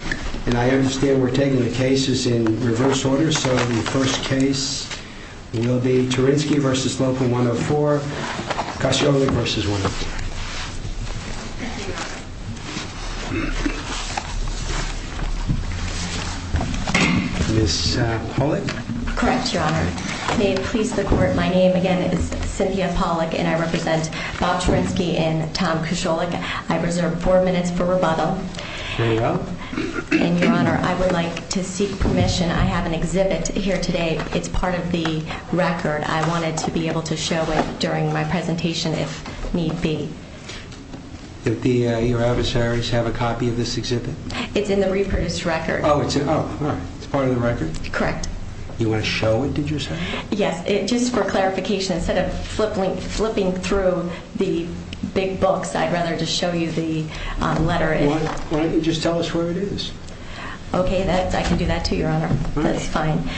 And I understand we're taking the cases in reverse order, so the first case will be Terinski v. Local104, Koscielny v. 104 Ms. Pollack Correct, Your Honor. May it please the Court, my name again is Cynthia Pollack and I represent Bob Terinski and Tom Koscielny. I reserve four minutes for rebuttal. And Your Honor, I would like to seek permission, I have an exhibit here today, it's part of the record, I wanted to be able to show it during my presentation if need be. Did your adversaries have a copy of this exhibit? It's in the reproduced record. Oh, it's part of the record? Correct. You want to show it did you say? Yes, just for clarification, instead of flipping through the big books, I'd rather just show you the letter. Why don't you just tell us where it is? Okay, I can do that to you, Your Honor. That's fine.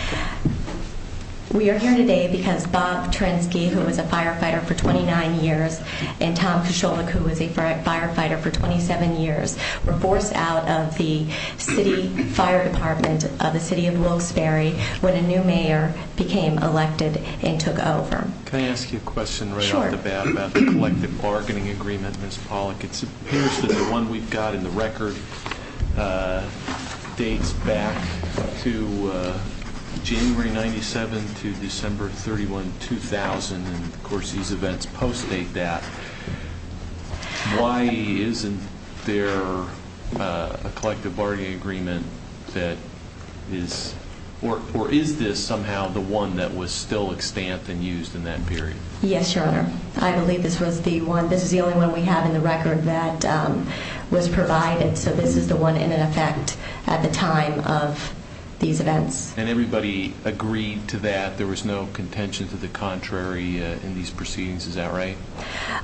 We are here today because Bob Terinski, who was a firefighter for 29 years, and Tom Koscielny, who was a firefighter for 27 years, were forced out of the city fire department of the city of Wilkes-Barre when a new mayor became elected and took over. Can I ask you a question right off the bat about the collective bargaining agreement, Ms. Pollack? It appears that the one we've got in the record dates back to January 97 to December 31, 2000, and of course these events post-date that. Why isn't there a collective bargaining agreement that is, or is this somehow the one that was still in effect at the time of these events? And everybody agreed to that? There was no contention to the contrary in these proceedings, is that right?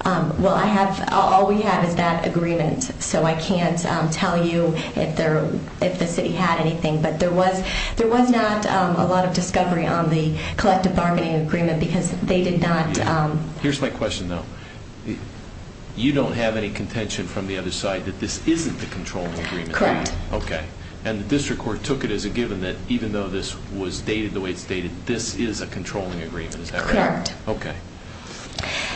Well, all we have is that agreement, so I can't tell you if the city had anything, but there was not a lot of discovery on the collective bargaining agreement because they did not... Here's my question, though. You don't have any contention from the other side that this isn't the controlling agreement? Correct. Okay. And the district court took it as a given that even though this was dated the way it's dated, this is a controlling agreement, is that right? Correct. Okay.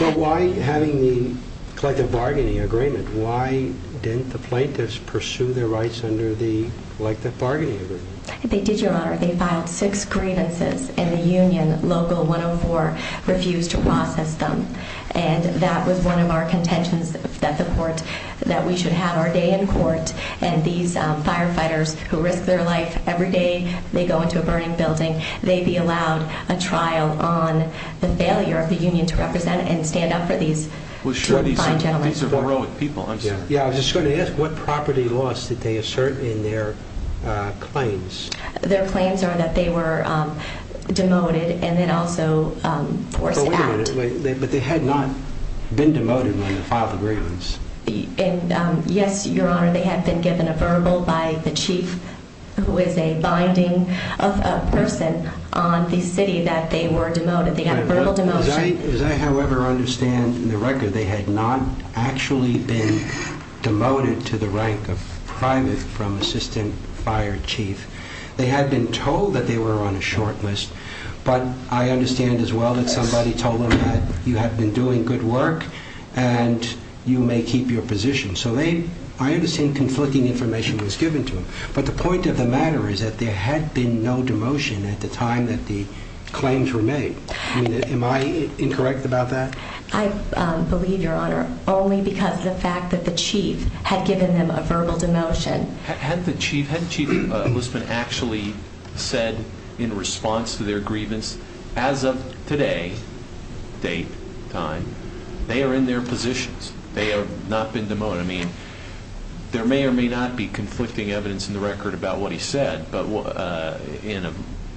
Well, why having the collective bargaining agreement, why didn't the plaintiffs pursue their rights under the collective bargaining agreement? They did, Your Honor. They filed six grievances and the union, Local 104, refused to process them, and that was one of our contentions that the court, that we should have our day in court, and these firefighters who risk their life every day, they go into a burning building, they be allowed a trial on the failure of the union to represent and stand up for these fine gentlemen. Well, sure, these are property loss that they assert in their claims. Their claims are that they were demoted and then also forced out. But they had not been demoted when they filed the grievance. Yes, Your Honor, they had been given a verbal by the chief who is a binding person on the city that they were demoted. They got a verbal demotion. As I however understand the record, they had not actually been demoted to the rank of private from assistant fire chief. They had been told that they were on a short list, but I understand as well that somebody told them that you have been doing good work and you may keep your position. So they, I understand conflicting information was given to them. But the point of the matter is that there had been no demotion at the time that the claims were made. I mean, am I incorrect about that? I believe, Your Honor, only because of the fact that the chief had given them a verbal demotion. Hadn't the chief, hadn't Chief Lisbon actually said in response to their grievance, as of today, date, time, they are in their positions. They have not been demoted. I mean, there may or may not be conflicting evidence in the record about what he said, but in an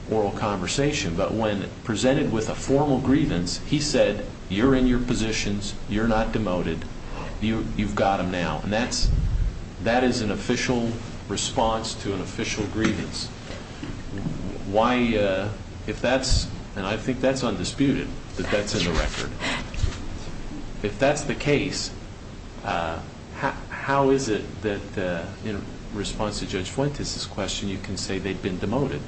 oral conversation. But when presented with a formal grievance, he said, you're in your positions. You're not demoted. You've got them now. And that is an official response to an official grievance. Why, if that's, and I think that's undisputed, that that's in the record. If that's the case, how is it that in response to Judge Fuentes' question, you can say they've been demoted?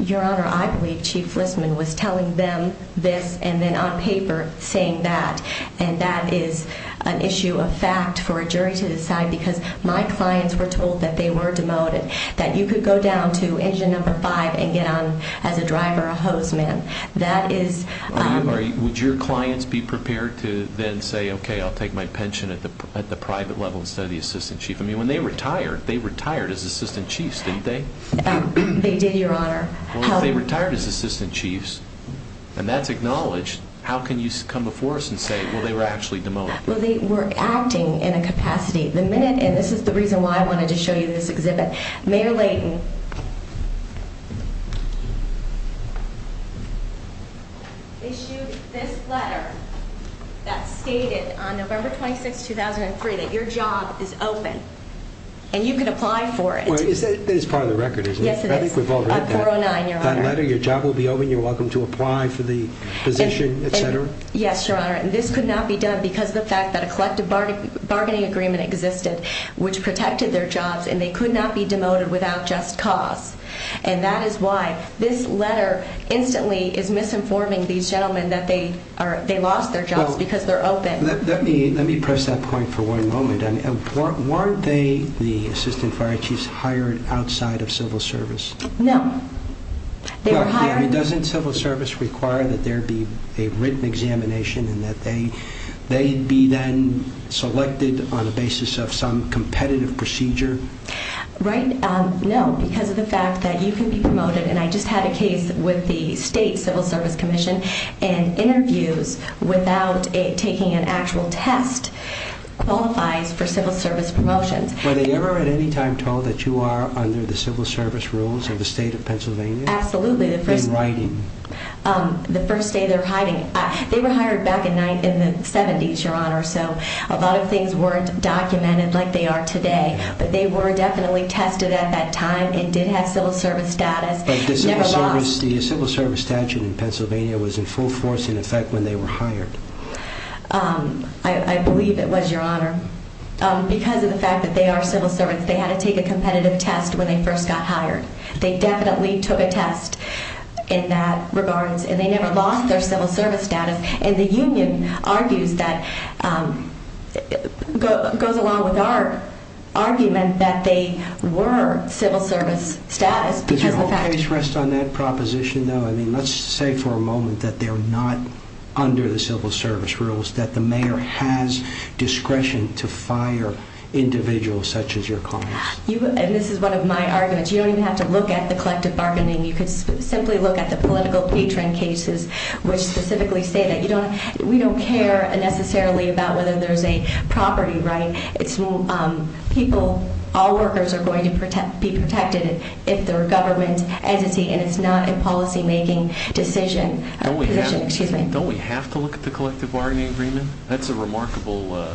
Your Honor, I believe Chief Lisbon was telling them this and then on paper saying that. And that is an issue of fact for a jury to decide because my clients were told that they were demoted. That you could go down to engine number five and get on as a driver, a hoseman. That is... Would your clients be prepared to then say, okay, I'll take my pension at the private level instead of the assistant chief? I mean, when they retired, they retired as assistant chiefs, didn't they? They did, Your Honor. Well, if they retired as assistant chiefs and that's acknowledged, how can you come before us and say, well, they were actually demoted? Well, they were acting in a capacity. The minute, and this is the reason why I wanted to show you this exhibit. Mayor Layton issued this letter that stated on November 26, 2003, that your job is open and you can apply for it. Wait, is that part of the record? Yes, it is. I think we've all read that. On 409, Your Honor. That letter, your job will be open, you're welcome to apply for the position, et cetera? Yes, Your Honor. And this could not be done because of the fact that a collective bargaining agreement existed, which protected their jobs and they could not be demoted without just cause. And that is why this letter instantly is misinforming these gentlemen that they lost their jobs because they're open. Let me press that point for one moment. Weren't they, the assistant fire chiefs, hired outside of civil service? No. Doesn't civil service require that there be a written examination and that they be then selected on the basis of some competitive procedure? Right, no. Because of the fact that you can be promoted, and I just had a case with the state civil service commission, and interviews without taking an actual test qualifies for civil service promotions. Were they ever at any time told that you are under the civil service rules of the state of Pennsylvania? Absolutely. In writing? The first day they were hired back in the 70s, Your Honor, so a lot of things weren't documented like they are today. But they were definitely tested at that time and did have civil service status. But the civil service statute in Pennsylvania was in full force, in effect, when they were hired? I believe it was, Your Honor. Because of the fact that they are civil servants, they had to take a competitive test when they first got hired. They definitely took a test in that regards, and they never lost their civil service status. And the union argues that, goes along with our argument, that they were civil service status. Does your whole case rest on that proposition, though? I mean, let's say for a moment that they're not under the civil service rules, that the mayor has discretion to fire individuals such as your clients. And this is one of my arguments. You don't even have to look at the collective bargaining. You could simply look at the political patron cases, which specifically say that we don't care necessarily about whether there's a property, right? People, all workers are going to be protected if they're a government entity and it's not a policymaking decision. Don't we have to look at the collective bargaining agreement? That's a remarkable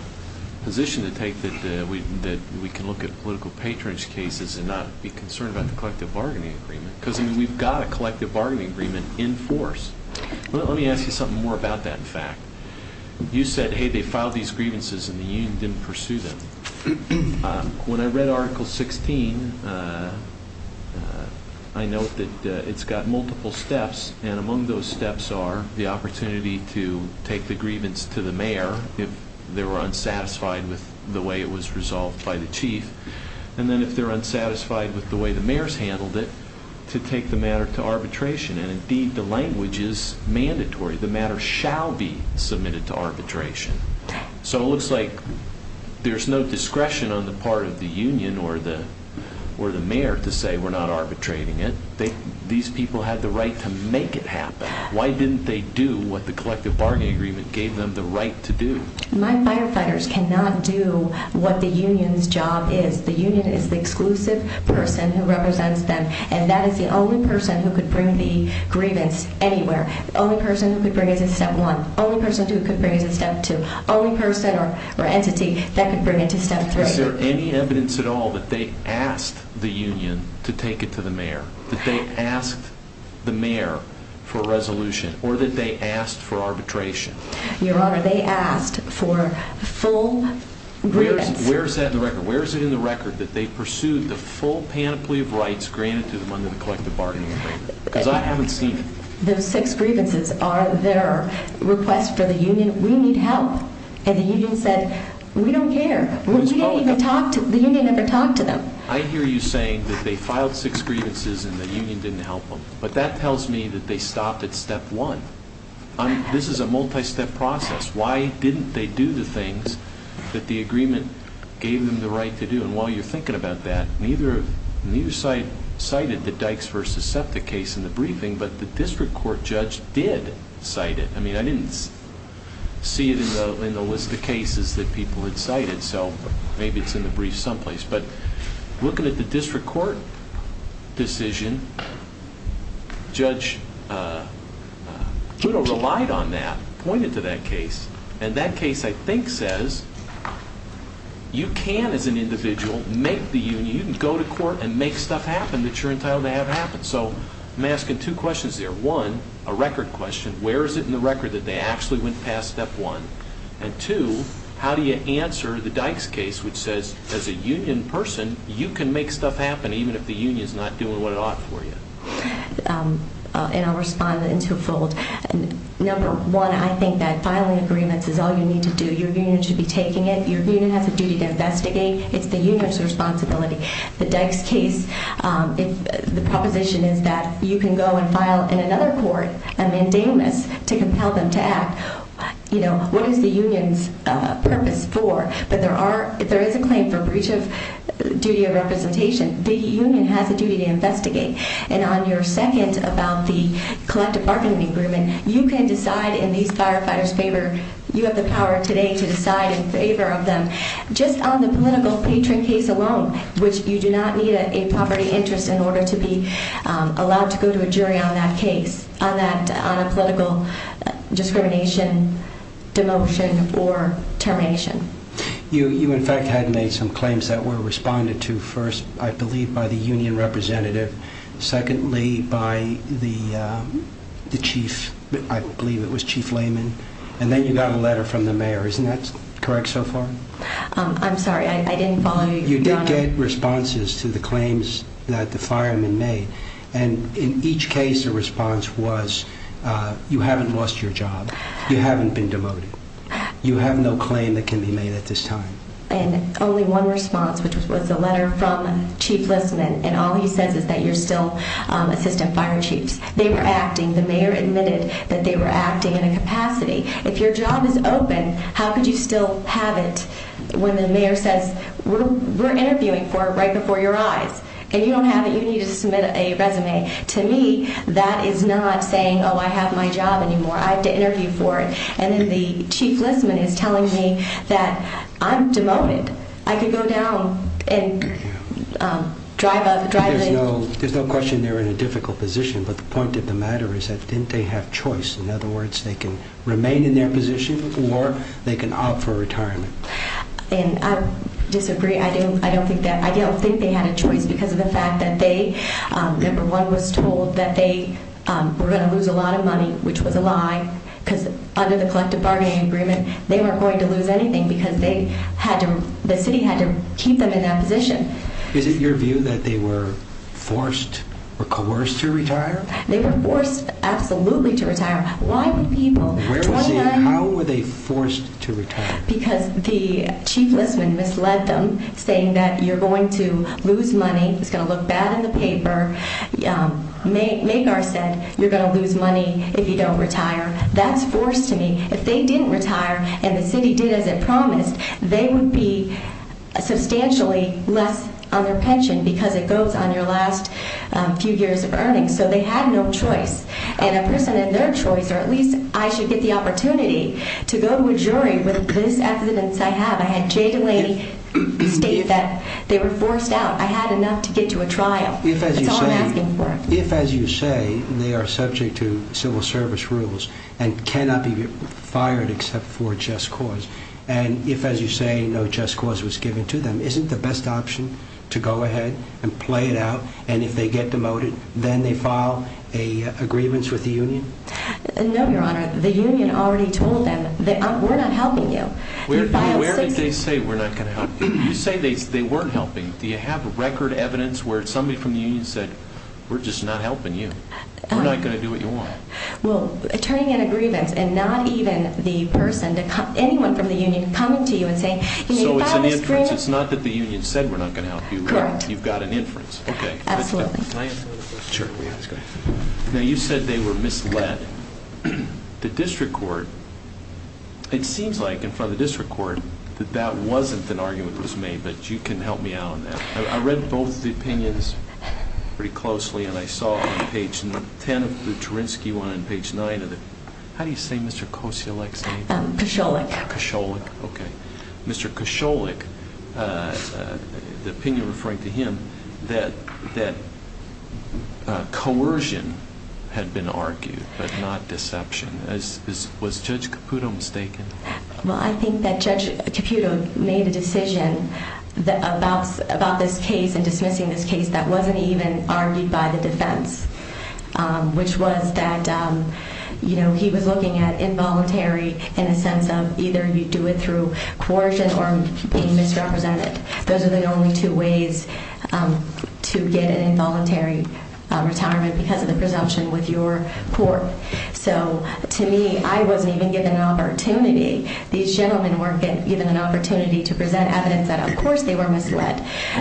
position to take, that we can look at political patronage cases and not be concerned about the collective bargaining agreement. Because we've got a collective bargaining agreement in force. Let me ask you something more about that, in fact. You said, hey, they filed these grievances and the union didn't pursue them. When I read Article 16, I note that it's got multiple steps, and among those steps are the opportunity to take the grievance to the mayor if they were unsatisfied with the way it was resolved by the chief, and then if they're unsatisfied with the way the mayor's handled it, to take the matter to arbitration. And indeed, the language is mandatory. The matter shall be submitted to arbitration. So it looks like there's no discretion on the part of the union or the mayor to say we're not arbitrating it. These people had the right to make it happen. Why didn't they do what the collective bargaining agreement gave them the right to do? My firefighters cannot do what the union's job is. The union is the exclusive person who represents them, and that is the only person who could bring the grievance anywhere. The only person who could bring it is Step 1. The only person who could bring it is Step 2. The only person or entity that could bring it to Step 3. Is there any evidence at all that they asked the union to take it to the mayor? That they asked the mayor for a resolution or that they asked for arbitration? Your Honor, they asked for full grievance. Where is that in the record? Where is it in the record that they pursued the full panoply of rights granted to them under the collective bargaining agreement? Because I haven't seen it. Those six grievances are their request for the union. We need help. And the union said, we don't care. We don't even talk to, the union never talked to them. I hear you saying that they filed six grievances and the union didn't help them. But that tells me that they stopped at Step 1. This is a multi-step process. Why didn't they do the things that the agreement gave them the right to do? And while you're thinking about that, neither side cited the Dykes v. Septic case in the briefing, but the district court judge did cite it. I mean, I didn't see it in the list of cases that people had cited, so maybe it's in the brief someplace. But looking at the district court decision, Judge Puto relied on that, pointed to that case. And that case I think says, you can as an individual make the union, you can go to court and make stuff happen that you're entitled to have happen. So I'm asking two questions there. One, a record question. Where is it in the record that they actually went past Step 1? And two, how do you answer the Dykes case which says, as a union person, you can make stuff happen even if the union's not doing what it ought for you? And I'll respond in two-fold. Number one, I think that filing agreements is all you need to do. Your union should be taking it. Your union has a duty to investigate. It's the union's responsibility. The Dykes case, the proposition is that you can go and file in another court a mandamus to compel them to act. What is the union's purpose for? But if there is a claim for breach of duty of representation, the union has a duty to do so. And number two, on your second about the collective bargaining agreement, you can decide in these firefighters' favor. You have the power today to decide in favor of them. Just on the political patron case alone, which you do not need a property interest in order to be allowed to go to a jury on that case, on a political discrimination, demotion, or termination. You in fact had made some claims that were responded to first, I believe, by the union representative. Secondly, by the chief, I believe it was Chief Lehman. And then you got a letter from the mayor. Isn't that correct so far? I'm sorry. I didn't follow you. You did get responses to the claims that the firemen made. And in each case, the response was, you haven't lost your job. You haven't been demoted. You have no claim that can be made at this time. And only one response, which was a letter from Chief Lehman. And all he says is that you're still assistant fire chiefs. They were acting. The mayor admitted that they were acting in a capacity. If your job is open, how could you still have it when the mayor says, we're interviewing for it right before your eyes. And you don't have it. You need to submit a resume. To me, that is not saying, oh, I have my job anymore. I have to interview for it. And then the Chief Lehman is telling me that I'm demoted. I could go down and drive up. There's no question they're in a difficult position. But the point of the matter is that didn't they have choice? In other words, they can remain in their position or they can opt for retirement. And I disagree. I don't think that. I don't think they had a choice because of the fact that they, number one, was told that they were going to lose a lot of money, which was a lie because under the collective bargaining agreement, they weren't going to lose anything because they had to, the city had to keep them in that position. Is it your view that they were forced or coerced to retire? They were forced absolutely to retire. Why would people? How were they forced to retire? Because the Chief Lehman misled them, saying that you're going to lose money. It's going to look bad in the paper. Magar said you're going to lose money if you don't retire. That's forced to me. If they didn't retire and the city did as it promised, they would be substantially less on their pension because it goes on your last few years of earnings. So they had no choice. And a person in their choice, or at least I should get the opportunity to go to a jury with this evidence I have, I had Jay Delaney state that they were forced out. I had enough to get to a trial. That's all I'm asking for. If, as you say, they are subject to civil service rules and cannot be fired except for a just cause, and if, as you say, no just cause was given to them, isn't the best option to go ahead and play it out and if they get demoted, then they file an agreement with the union? No, Your Honor. The union already told them, we're not helping you. Where did they say we're not going to help you? You say they weren't helping. Do you have record evidence where somebody from the union said, we're just not helping you? We're not going to do what you want. Well, turning in a grievance and not even the person, anyone from the union coming to you and saying, you need to file this grievance. So it's an inference. It's not that the union said we're not going to help you. Correct. You've got an inference. Absolutely. Can I answer? Sure. Now you said they were misled. The district court, it seems like in front of the district court, that that wasn't an argument that was made, but you can help me out on that. I read both of the opinions pretty closely and I saw on page 10 of the Terinsky one and page 9 of the, how do you say Mr. Kosielek's name? Kosielek. Kosielek, okay. Mr. Kosielek, the opinion referring to him, that coercion had been argued but not deception. Was Judge Caputo mistaken? Well, I think that Judge Caputo made a decision about this case and dismissing this case that wasn't even argued by the defense, which was that he was looking at involuntary in a sense of either you do it through coercion or being misrepresented. Those are the only two ways to get an involuntary retirement because of the presumption with your court. So to me, I wasn't even given an opportunity. These gentlemen weren't given an opportunity to present evidence that of course they were misled.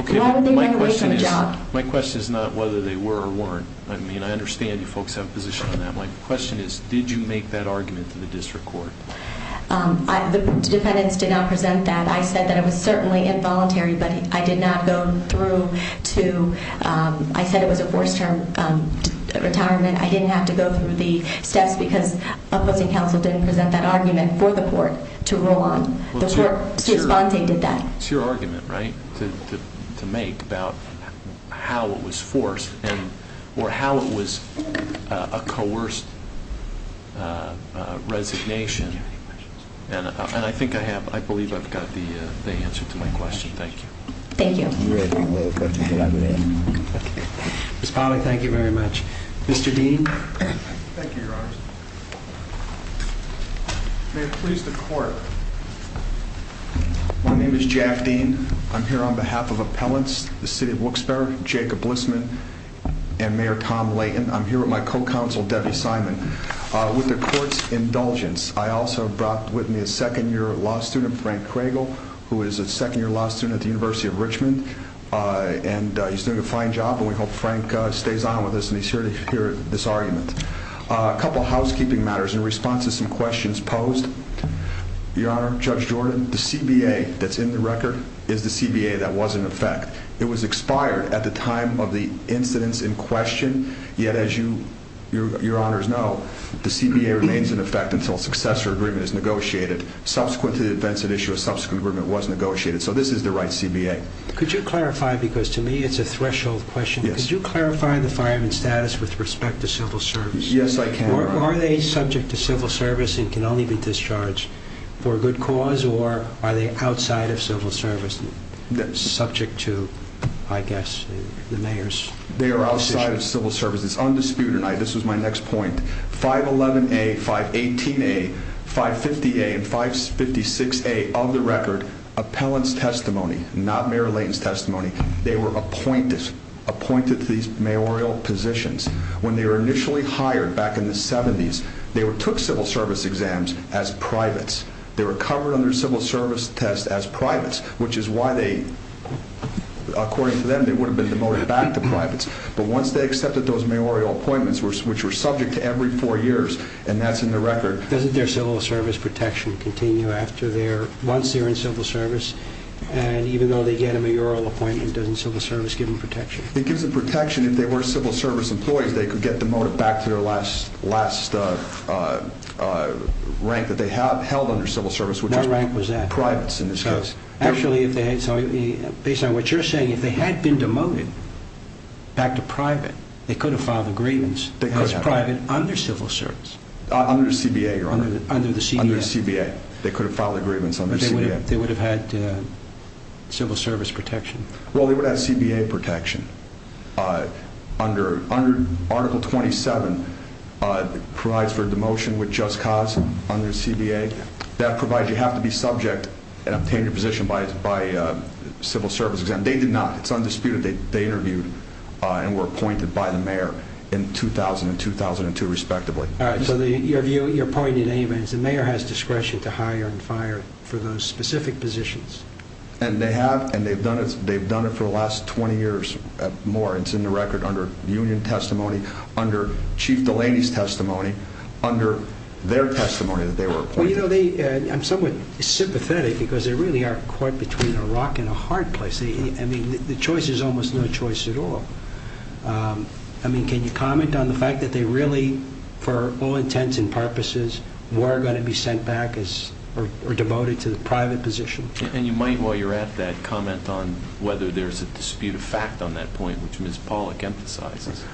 Why would they run away from a job? My question is not whether they were or weren't. I mean, I understand you folks have a position on that. My question is, did you make that argument to the district court? The defendants did not present that. I said that it was certainly involuntary, but I did not go through to, I said it was a forced term retirement. I didn't have to go through the steps because opposing counsel didn't present that argument for the court to rule on. The court did that. It's your argument, right, to make about how it was forced or how it was a coerced resignation. And I think I have, I believe I've got the answer to my question. Thank you. Thank you. Ms. Polley, thank you very much. Mr. Dean. Thank you, Your Honor. May it please the court. My name is Jack Dean. I'm here on behalf of appellants, the city of Wilkes-Barre, Jacob Blissman, and Mayor Tom Layton. I'm here with my co-counsel, Debbie Simon. With the court's indulgence, I also brought with me a second-year law student, Frank Craigle, who is a second-year law student at the University of Richmond. And he's doing a fine job and we hope Frank stays on with us and he's here to hear this argument. A couple of housekeeping matters in response to some questions posed. Your Honor, Judge Jordan, the CBA that's in the record is the CBA that was in effect. It was expired at the time of the incidents in question, yet as you, Your Honors know, the CBA remains in effect until a successor agreement is negotiated. Subsequent to the events at issue, a subsequent agreement was negotiated. So this is the right CBA. Could you clarify, because to me it's a threshold question, but could you clarify the fireman status with respect to civil service? Yes, I can, Your Honor. Are they subject to civil service and can only be discharged for a good cause or are they outside of civil service, subject to, I guess, the mayor's decision? They are outside of civil service. It's undisputed, and this was my next point. 511A, 518A, 550A, and 556A of the record, appellant's testimony, not Mayor Layton's testimony, they were appointed to these mayoral positions. When they were initially hired back in the 70s, they took civil service exams as privates. They were covered under civil service tests as privates, which is why they, according to them, they would have been demoted back to privates. But once they accepted those mayoral appointments, which were subject to every four years, and that's in the record. Doesn't their civil service protection continue after their, once they're in civil service, and even though they get a mayoral appointment, doesn't civil service give them protection? It gives them protection if they were civil service employees, they could get demoted back to their last rank that they held under civil service, which was privates in this case. Actually, based on what you're saying, if they had been demoted back to private, they could have filed agreements as private under civil service. Under CBA, Your Honor. Under the CBA. Under CBA. They could have filed agreements under CBA. They would have had civil service protection. Well, they would have had CBA protection. Under Article 27, it provides for demotion with just cause under CBA. That provides you have to be subject and obtain your position by civil service exam. They did not. It's undisputed. They interviewed and were appointed by the mayor in 2000 and 2002, respectively. All right, so your point at any event is the mayor has discretion to hire and fire for those specific positions. And they have, and they've done it for the last 20 years or more, and it's in the record under the union testimony, under Chief Delaney's testimony, under their testimony that they were appointed. Well, you know, I'm somewhat sympathetic because they really are caught between a rock and a hard place. I mean, the choice is almost no choice at all. I mean, can you comment on the fact that they really, for all intents and purposes, were going to be sent back or demoted to the private position? And you might, while you're at that, comment on whether there's a dispute of fact on that point, which Ms. Pollack emphasizes.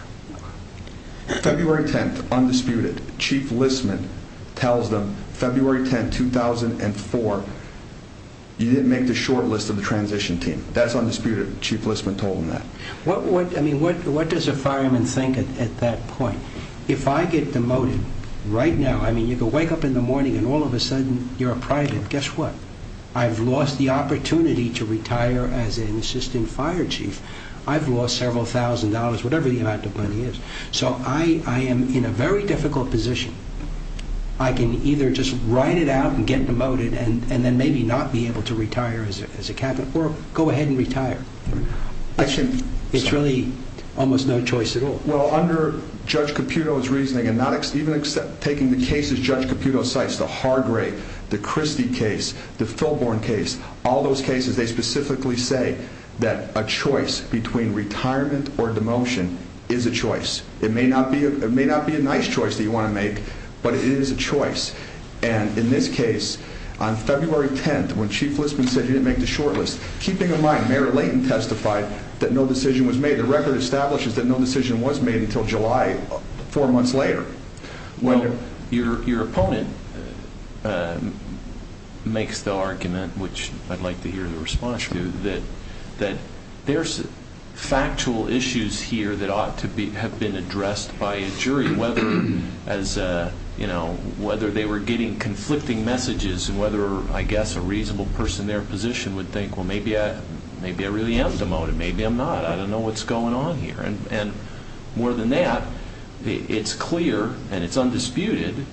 February 10th, undisputed. Chief Listman tells them, February 10, 2004, you didn't make the short list of the transition team. That's undisputed. Chief Listman told them that. I mean, what does a fireman think at that point? If I get demoted right now, I mean, you can wake up in the morning and all of a sudden you're a private. Guess what? I've lost the opportunity to retire as an assistant fire chief. I've lost several thousand dollars, whatever the amount of money is. So I am in a very difficult position. I can either just ride it out and get demoted and then maybe not be able to retire as a captain or go ahead and retire. It's really almost no choice at all. Well, under Judge Caputo's reasoning and not even taking the cases Judge Caputo cites, the Hargrave, the Christie case, the Filborne case, all those cases, they specifically say that a choice between retirement or demotion is a choice. It may not be a nice choice that you want to make, but it is a choice. And in this case, on February 10, when Chief Listman said you didn't make the short list, keeping in mind Mayor Layton testified that no decision was made, the record establishes that no decision was made until July, four months later. Well, your opponent makes the argument, which I'd like to hear the response to, that there's factual issues here that ought to have been addressed by a jury, whether they were getting conflicting messages and whether, I guess, a reasonable person in their position would think, well, maybe I really am demoted, maybe I'm not, I don't know what's going on here. And more than that, it's clear and it's undisputed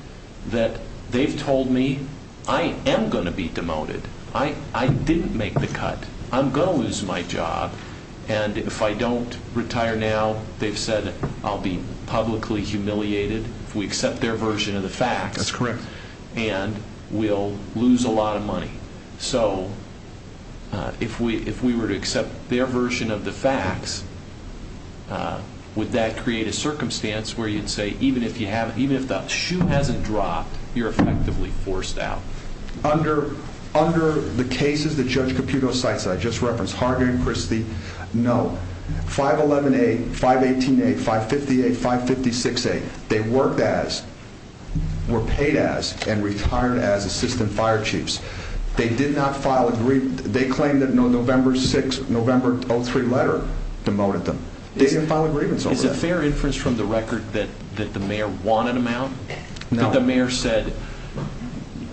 that they've told me I am going to be demoted, I didn't make the cut, I'm going to lose my job, and if I don't retire now, they've said I'll be publicly humiliated if we accept their version of the facts. That's correct. And we'll lose a lot of money. So if we were to accept their version of the facts, would that create a circumstance where you'd say even if the shoe hasn't dropped, you're effectively forced out? Under the cases that Judge Caputo cites that I just referenced, Harden and Christie, no, 511A, 518A, 558, 556A, they worked as, were paid as, and retired as assistant fire chiefs. They did not file a, they claim that a November 6, November 03 letter demoted them. They didn't file a grievance over that. Is it fair inference from the record that the mayor wanted them out? No. That the mayor said,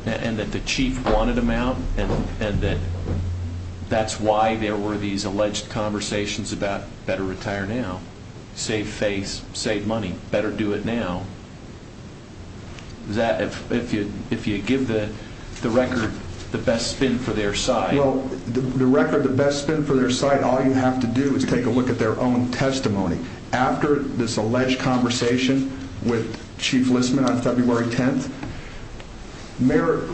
and that the chief wanted them out, and that that's why there were these alleged conversations about better retire now, save face, save money, better do it now. Does that, if you give the record the best spin for their side? Well, the record, the best spin for their side, all you have to do is take a look at their own testimony. After this alleged conversation with Chief Listman on February 10th, Mayor,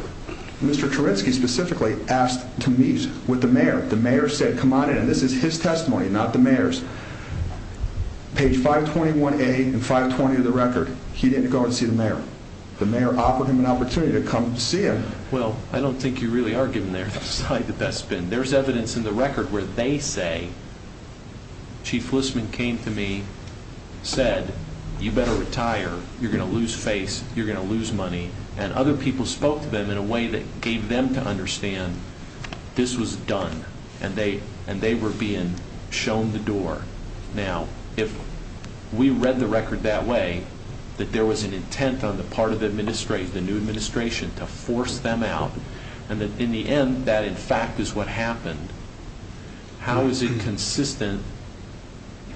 Mr. Terinsky specifically, asked to meet with the mayor. The mayor said, come on in, and this is his testimony, not the mayor's. Page 521A and 520 of the record, he didn't go and see the mayor. The mayor offered him an opportunity to come see him. Well, I don't think you really are giving their side the best spin. There's evidence in the record where they say, Chief Listman came to me, said, you better retire, you're going to lose face, you're going to lose money, and other people spoke to them in a way that gave them to understand this was done, and they were being shown the door. Now, if we read the record that way, that there was an intent on the part of the new administration to force them out, and that in the end, that in fact is what happened, how is it consistent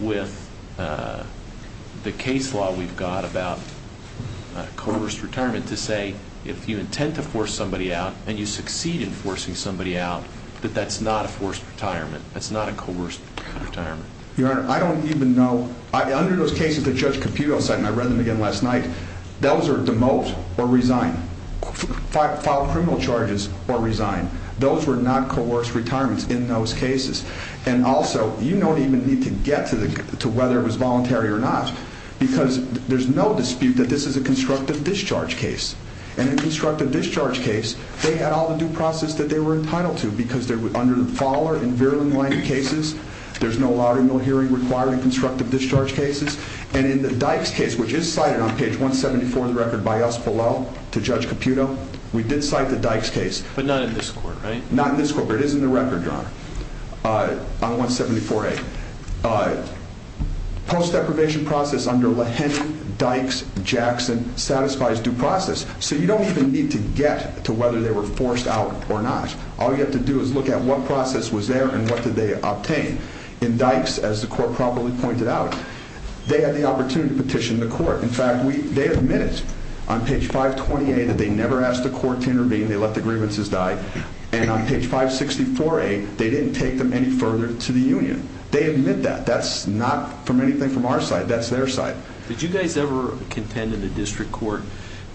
with the case law we've got about coerced retirement to say, if you intend to force somebody out and you succeed in forcing somebody out, that that's not a forced retirement, that's not a coerced retirement? Your Honor, I don't even know. Under those cases that Judge Caputo cited, and I read them again last night, those are demote or resign, file criminal charges or resign. Those were not coerced retirements in those cases. And also, you don't even need to get to whether it was voluntary or not, because there's no dispute that this is a constructive discharge case, and in a constructive discharge case, they had all the due process that they were entitled to because they were under the follower in virulent-minded cases. There's no louder, no hearing required in constructive discharge cases. And in the Dykes case, which is cited on page 174 of the record by us below to Judge Caputo, we did cite the Dykes case. But not in this court, right? Not in this court, but it is in the record, Your Honor, on 174A. Post-deprivation process under Leheny, Dykes, Jackson satisfies due process, so you don't even need to get to whether they were forced out or not. All you have to do is look at what process was there and what did they obtain. In Dykes, as the court properly pointed out, they had the opportunity to petition the court. In fact, they admitted on page 520A that they never asked the court to intervene, they let the grievances die, and on page 564A, they didn't take them any further to the union. They admit that. That's not from anything from our side. That's their side. Did you guys ever contend in the district court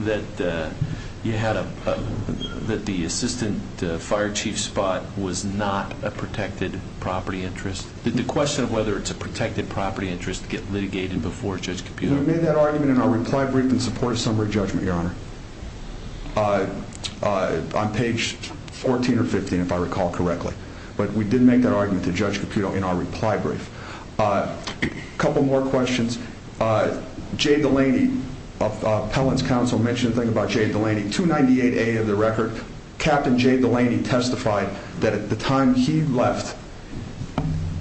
that the assistant fire chief spot was not a protected property interest? Did the question of whether it's a protected property interest get litigated before Judge Caputo? We made that argument in our reply brief in support of summary judgment, Your Honor, on page 14 or 15, if I recall correctly. But we did make that argument to Judge Caputo in our reply brief. A couple more questions. Jay Delaney, Appellant's counsel, mentioned a thing about Jay Delaney. 298A of the record, Captain Jay Delaney testified that at the time he left,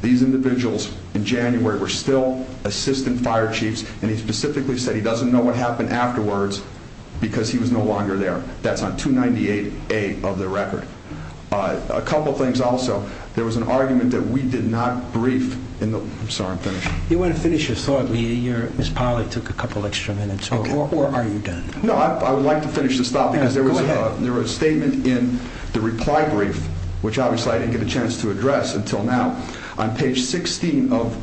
these individuals in January were still assistant fire chiefs, and he specifically said he doesn't know what happened afterwards because he was no longer there. That's on 298A of the record. A couple of things also. There was an argument that we did not brief. I'm sorry, I'm finished. You want to finish your thought meeting? Ms. Pollack took a couple extra minutes. Or are you done? No, I would like to finish this thought because there was a statement in the reply brief, which obviously I didn't get a chance to address until now. On page 16 of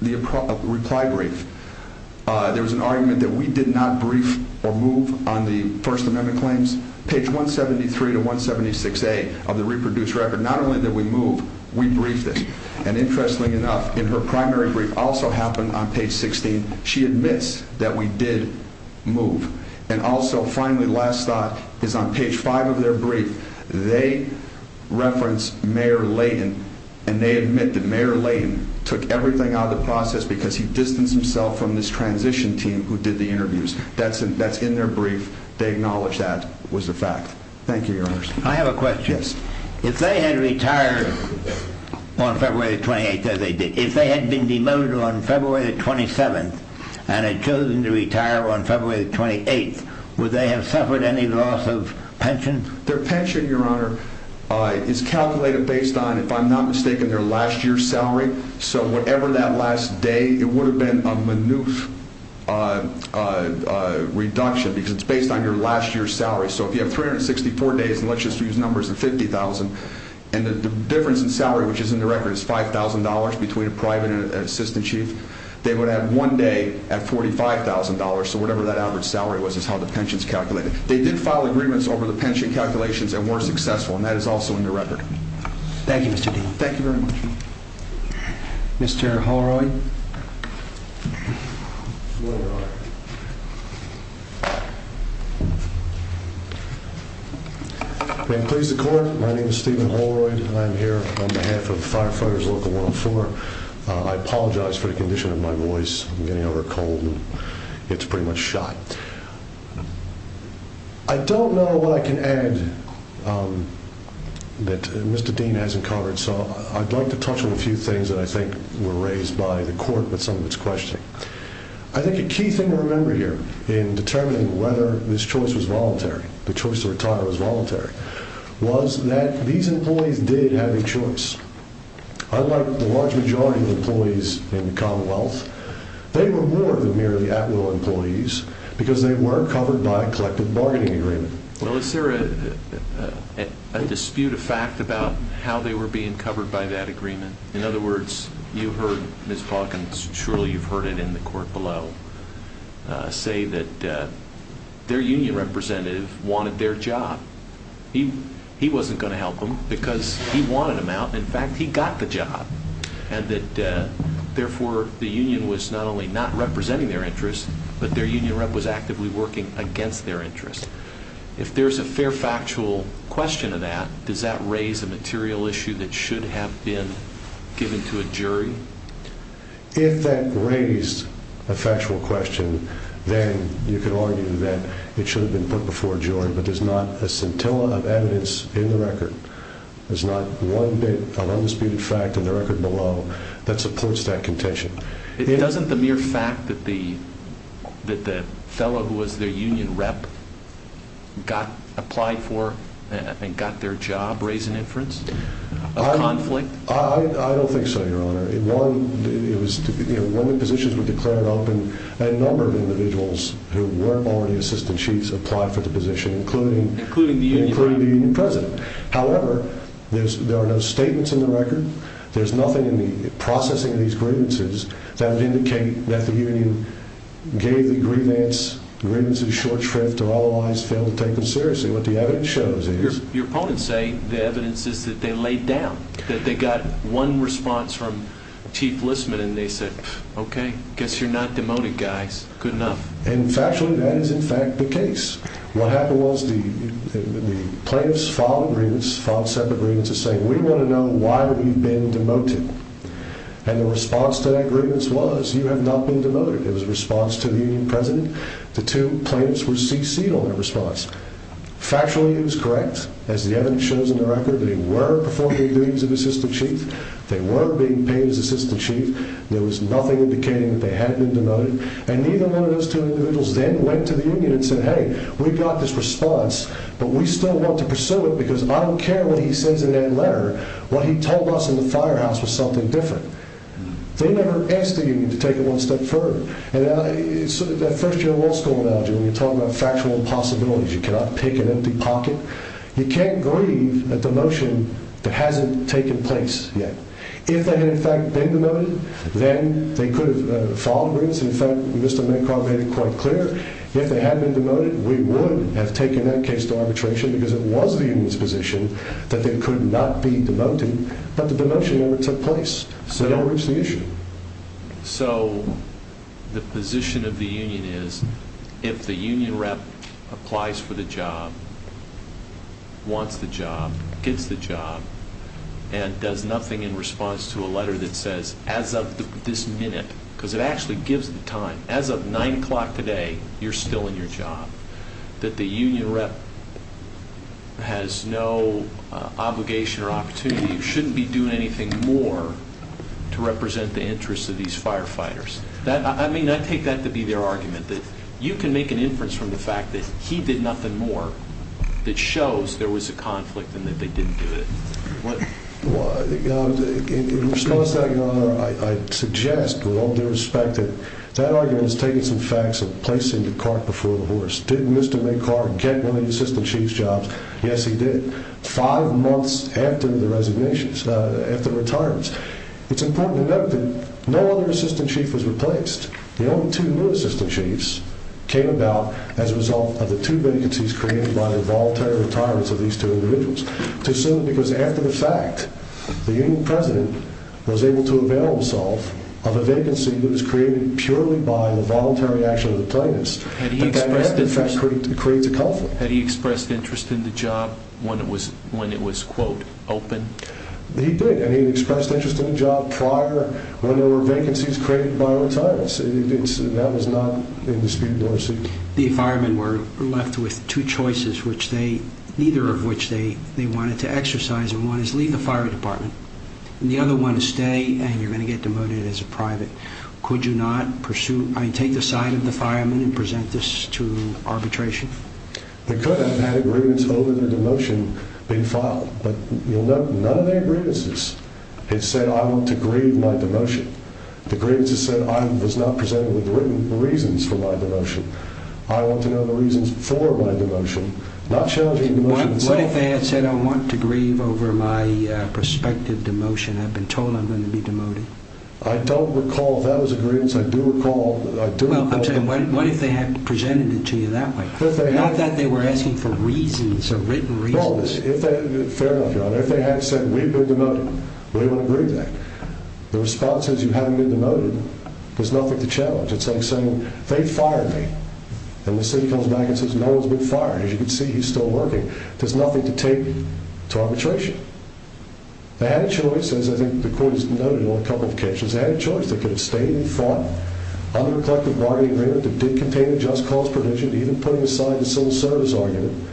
the reply brief, there was an argument that we did not brief or move on the First Amendment claims. Page 173 to 176A of the reproduced record, not only did we move, we briefed it. And interestingly enough, in her primary brief, also happened on page 16. She admits that we did move. And also, finally, last thought is on page 5 of their brief, they referenced Mayor Layton, and they admit that Mayor Layton took everything out of the process because he distanced himself from this transition team who did the interviews. That's in their brief. They acknowledge that was a fact. Thank you, Your Honor. I have a question. Yes. If they had retired on February the 28th, as they did, if they had been demoted on February the 27th and had chosen to retire on February the 28th, would they have suffered any loss of pension? Their pension, Your Honor, is calculated based on, if I'm not mistaken, their last year's salary. So whatever that last day, it would have been a minute reduction because it's based on your last year's salary. So if you have 364 days, and let's just use numbers of 50,000, and the difference in salary, which is in the record, is $5,000 between a private and an assistant chief, they would have one day at $45,000. So whatever that average salary was is how the pension is calculated. They did file agreements over the pension calculations and were successful, and that is also in the record. Thank you, Mr. Dean. Thank you very much. Mr. Holroyd. May it please the Court, my name is Stephen Holroyd, and I'm here on behalf of Firefighters Local 104. I apologize for the condition of my voice. I'm getting over a cold, and it's pretty much shot. I don't know what I can add that Mr. Dean hasn't covered, so I'd like to touch on a few things that I think were raised by the Court with some of its questioning. I think a key thing to remember here in determining whether this choice was voluntary, the choice to retire was voluntary, was that these employees did have a choice. Unlike the large majority of employees in the Commonwealth, they were more than merely at-will employees because they were covered by a collective bargaining agreement. Well, is there a dispute of fact about how they were being covered by that agreement? In other words, you heard Ms. Falk, and surely you've heard it in the Court below, say that their union representative wanted their job. He wasn't going to help them because he wanted them out. In fact, he got the job, and that, therefore, the union was not only not representing their interests, but their union rep was actively working against their interests. If there's a fair factual question of that, does that raise a material issue that should have been given to a jury? If that raised a factual question, then you could argue that it should have been put before a jury, but there's not a scintilla of evidence in the record. There's not one bit of undisputed fact in the record below that supports that contention. It doesn't the mere fact that the fellow who was their union rep applied for and got their job raise an inference of conflict? I don't think so, Your Honor. One of the positions was declared open, and a number of individuals who weren't already assistant chiefs applied for the position, including the union president. There's nothing in the processing of these grievances that would indicate that the union gave the grievances short shrift or otherwise failed to take them seriously. What the evidence shows is... Your opponents say the evidence is that they laid down, that they got one response from Chief Listman, and they said, Okay, guess you're not demoted, guys. Good enough. And factually, that is, in fact, the case. What happened was the plaintiffs filed separate grievances saying, We want to know why we've been demoted. And the response to that grievance was, You have not been demoted. It was a response to the union president. The two plaintiffs were cc'd on that response. Factually, it was correct. As the evidence shows in the record, they were performing a grievance of assistant chief. They were being paid as assistant chief. There was nothing indicating that they had been demoted. And neither one of those two individuals then went to the union and said, Hey, we got this response, but we still want to pursue it because I don't care what he says in that letter. What he told us in the firehouse was something different. They never asked the union to take it one step further. And that first-year law school analogy, when you're talking about factual impossibilities, you cannot pick an empty pocket. You can't grieve a demotion that hasn't taken place yet. If they had, in fact, been demoted, then they could have filed a grievance. In fact, Mr. Mencar made it quite clear. If they had been demoted, we would have taken that case to arbitration because it was the union's position that they could not be demoted. But the demotion never took place. So they don't reach the issue. So the position of the union is if the union rep applies for the job, wants the job, gets the job, and does nothing in response to a letter that says as of this minute, because it actually gives the time, as of 9 o'clock today, you're still in your job, that the union rep has no obligation or opportunity, shouldn't be doing anything more to represent the interests of these firefighters. I mean, I take that to be their argument, that you can make an inference from the fact that he did nothing more that shows there was a conflict and that they didn't do it. In response to that, Your Honor, I suggest, with all due respect, that that argument has taken some facts of placing the cart before the horse. Did Mr. McCart get one of the assistant chief's jobs? Yes, he did. Five months after the resignations, after retirement. It's important to note that no other assistant chief was replaced. The only two new assistant chiefs came about as a result of the two vacancies created by the voluntary retirements of these two individuals. Because after the fact, the union president was able to avail himself of a vacancy that was created purely by the voluntary action of the retirements. And that, in fact, creates a conflict. Had he expressed interest in the job when it was, quote, open? He did, and he expressed interest in the job prior when there were vacancies created by retirements. That was not in the speed of notice. The firemen were left with two choices, neither of which they wanted to exercise, and one is leave the fire department, and the other one is stay and you're going to get demoted as a private. Could you not pursue, I mean, take the side of the firemen and present this to arbitration? They could have had agreements over their demotion being filed, but you'll note none of their agreements had said, I want to grieve my demotion. The grievances said I was not presented with written reasons for my demotion. I want to know the reasons for my demotion. Not challenging the motion itself. What if they had said, I want to grieve over my prospective demotion? I've been told I'm going to be demoted. I don't recall if that was agreements. I do recall. Well, I'm saying, what if they had presented it to you that way? Not that they were asking for reasons or written reasons. Fair enough, Your Honor. If they had said, we've been demoted, we wouldn't grieve that. The response is, you haven't been demoted. There's nothing to challenge. It's like saying, they fired me. And the city comes back and says, no one's been fired. As you can see, he's still working. There's nothing to take to arbitration. They had a choice, as I think the court has noted in a couple of cases. They had a choice. They could have stayed and fought under a collective bargaining agreement that did contain the just cause provision, even putting aside the civil service argument.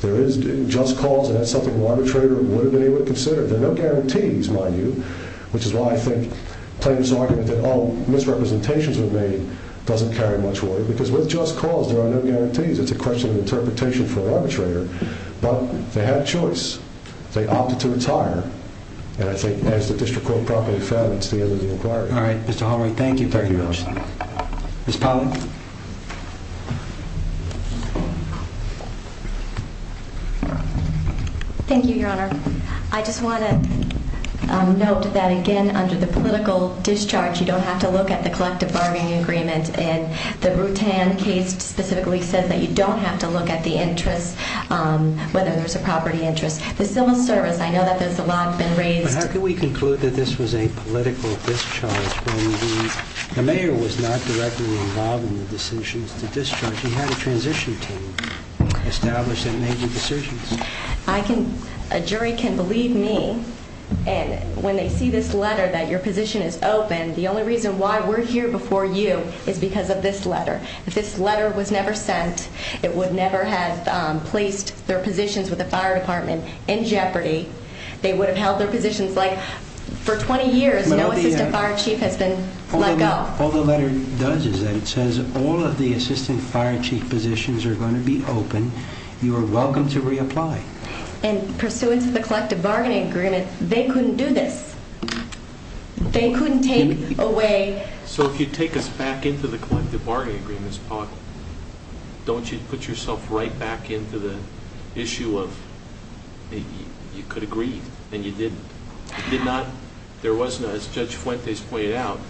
There is just cause, and that's something an arbitrator would have been able to consider. There are no guarantees, mind you, which is why I think playing this argument that all misrepresentations were made doesn't carry much weight, because with just cause there are no guarantees. It's a question of interpretation for an arbitrator. But they had a choice. They opted to retire. And I think as the district court probably found, it's the end of the inquiry. All right, Mr. Hallory, thank you very much. Thank you, Your Honor. Ms. Pollack? Thank you, Your Honor. I just want to note that, again, under the political discharge, you don't have to look at the collective bargaining agreement. And the Rutan case specifically says that you don't have to look at the interests, whether there's a property interest. The civil service, I know that there's a lot that's been raised. But how can we conclude that this was a political discharge when the mayor was not directly involved in the decisions to discharge? He had a transition team established that made the decisions. A jury can believe me. And when they see this letter that your position is open, the only reason why we're here before you is because of this letter. If this letter was never sent, it would never have placed their positions with the fire department in jeopardy. They would have held their positions. Like, for 20 years, no assistant fire chief has been let go. All the letter does is that it says all of the assistant fire chief positions are going to be open. You are welcome to reapply. And pursuant to the collective bargaining agreement, they couldn't do this. They couldn't take away. So if you take us back into the collective bargaining agreements, Paula, don't you put yourself right back into the issue of you could have grieved and you didn't. You did not. There was no, as Judge Fuentes pointed out,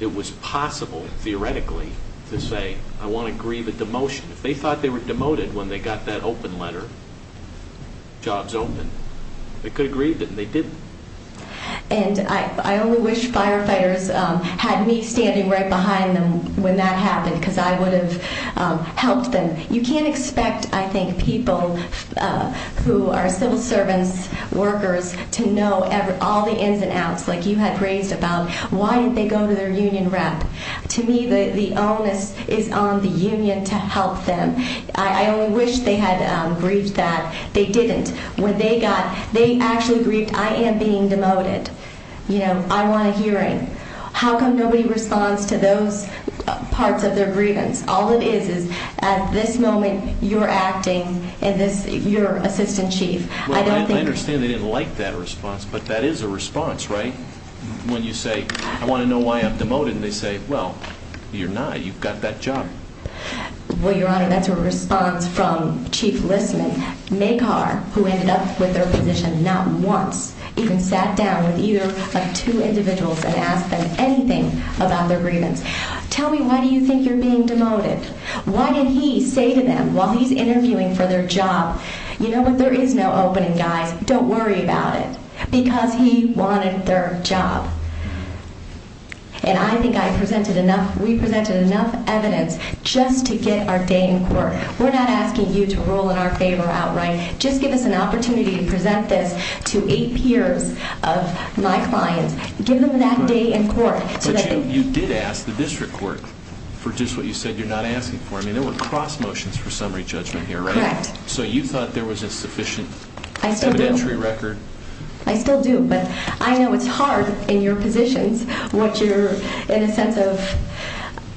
it was possible, theoretically, to say, I want to grieve a demotion. If they thought they were demoted when they got that open letter, jobs open, they could have grieved it and they didn't. And I only wish firefighters had me standing right behind them when that happened because I would have helped them. You can't expect, I think, people who are civil servants, workers, to know all the ins and outs like you had raised about why didn't they go to their union rep. To me, the onus is on the union to help them. I only wish they had grieved that. They didn't. When they got, they actually grieved, I am being demoted. I want a hearing. How come nobody responds to those parts of their grievance? All it is is at this moment you're acting and you're assistant chief. Well, I understand they didn't like that response, but that is a response, right? When you say, I want to know why I'm demoted, and they say, well, you're not. You've got that job. Well, Your Honor, that's a response from Chief Listman. Mekar, who ended up with their position not once, even sat down with either of two individuals and asked them anything about their grievance. Tell me why do you think you're being demoted? Why did he say to them while he's interviewing for their job, you know what, there is no opening, guys. Don't worry about it. Because he wanted their job. And I think I presented enough, we presented enough evidence just to get our day in court. We're not asking you to rule in our favor outright. Just give us an opportunity to present this to eight peers of my clients. Give them that day in court. But you did ask the district court for just what you said you're not asking for. I mean, there were cross motions for summary judgment here, right? Correct. So you thought there was a sufficient evidentiary record? I still do. I still do. But I know it's hard in your positions what you're in a sense of,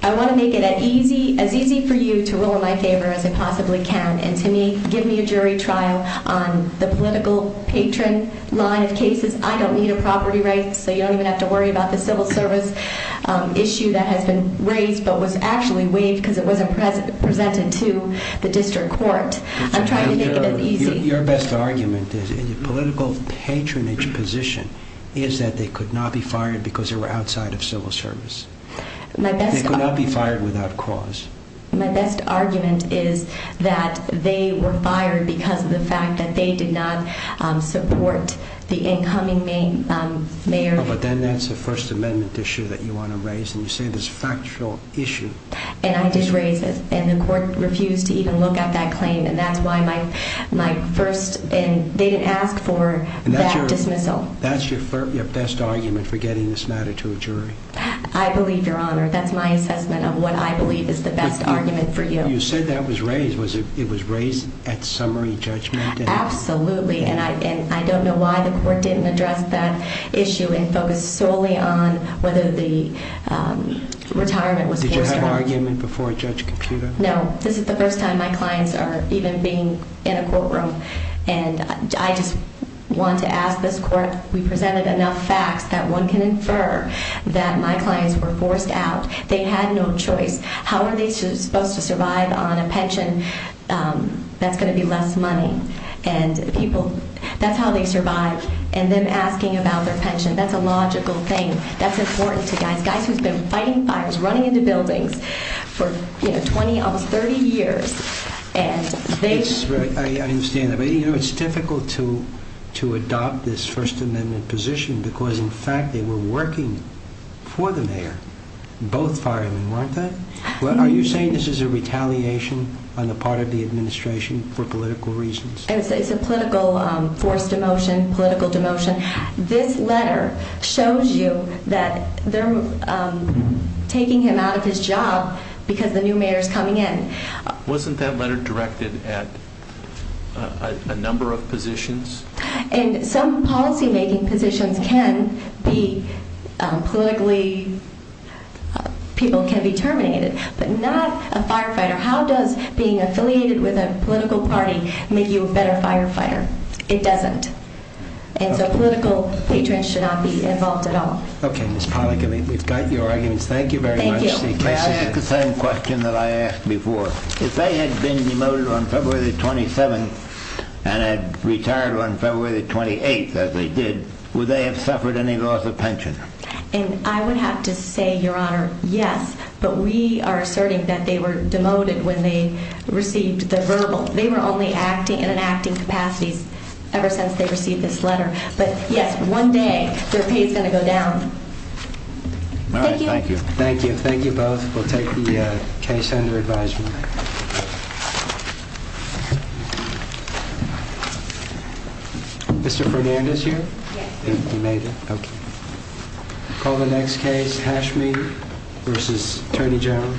I want to make it as easy for you to rule in my favor as I possibly can. And to me, give me a jury trial on the political patron line of cases. I don't need a property right. So you don't even have to worry about the civil service issue that has been raised but was actually waived because it wasn't presented to the district court. I'm trying to make it as easy. Your best argument is in a political patronage position is that they could not be fired because they were outside of civil service. They could not be fired without cause. My best argument is that they were fired because of the fact that they did not support the incoming mayor. But then that's a First Amendment issue that you want to raise, and you say there's a factual issue. And I did raise it, and the court refused to even look at that claim, and that's why my first, and they didn't ask for that dismissal. That's your best argument for getting this matter to a jury? I believe, Your Honor. That's my assessment of what I believe is the best argument for you. You said that was raised. It was raised at summary judgment? Absolutely. And I don't know why the court didn't address that issue and focus solely on whether the retirement was cast out. Did you have an argument before Judge Caputo? No. This is the first time my clients are even being in a courtroom. And I just want to ask this court, we presented enough facts that one can infer that my clients were forced out. They had no choice. How are they supposed to survive on a pension that's going to be less money? And people, that's how they survived. And them asking about their pension, that's a logical thing. That's important to guys, guys who've been fighting fires, running into buildings for, you know, 20, almost 30 years. I understand that. But, you know, it's difficult to adopt this First Amendment position because, in fact, they were working for the mayor, both firemen, weren't they? Are you saying this is a retaliation on the part of the administration for political reasons? It's a political forced demotion, political demotion. This letter shows you that they're taking him out of his job because the new mayor's coming in. Wasn't that letter directed at a number of positions? And some policymaking positions can be politically, people can be terminated. But not a firefighter. How does being affiliated with a political party make you a better firefighter? It doesn't. And so political patrons should not be involved at all. Okay, Ms. Pollack, I mean, we've got your arguments. Thank you very much. Can I ask the same question that I asked before? If they had been demoted on February the 27th and had retired on February the 28th, as they did, would they have suffered any loss of pension? And I would have to say, Your Honor, yes. But we are asserting that they were demoted when they received the verbal. They were only acting in an acting capacity ever since they received this letter. But, yes, one day their pay is going to go down. All right, thank you. Thank you. Thank you both. We'll take the case under advisement. Mr. Fernandez here? Yes. You made it? Okay. Call the next case, Hashmi v. Attorney General.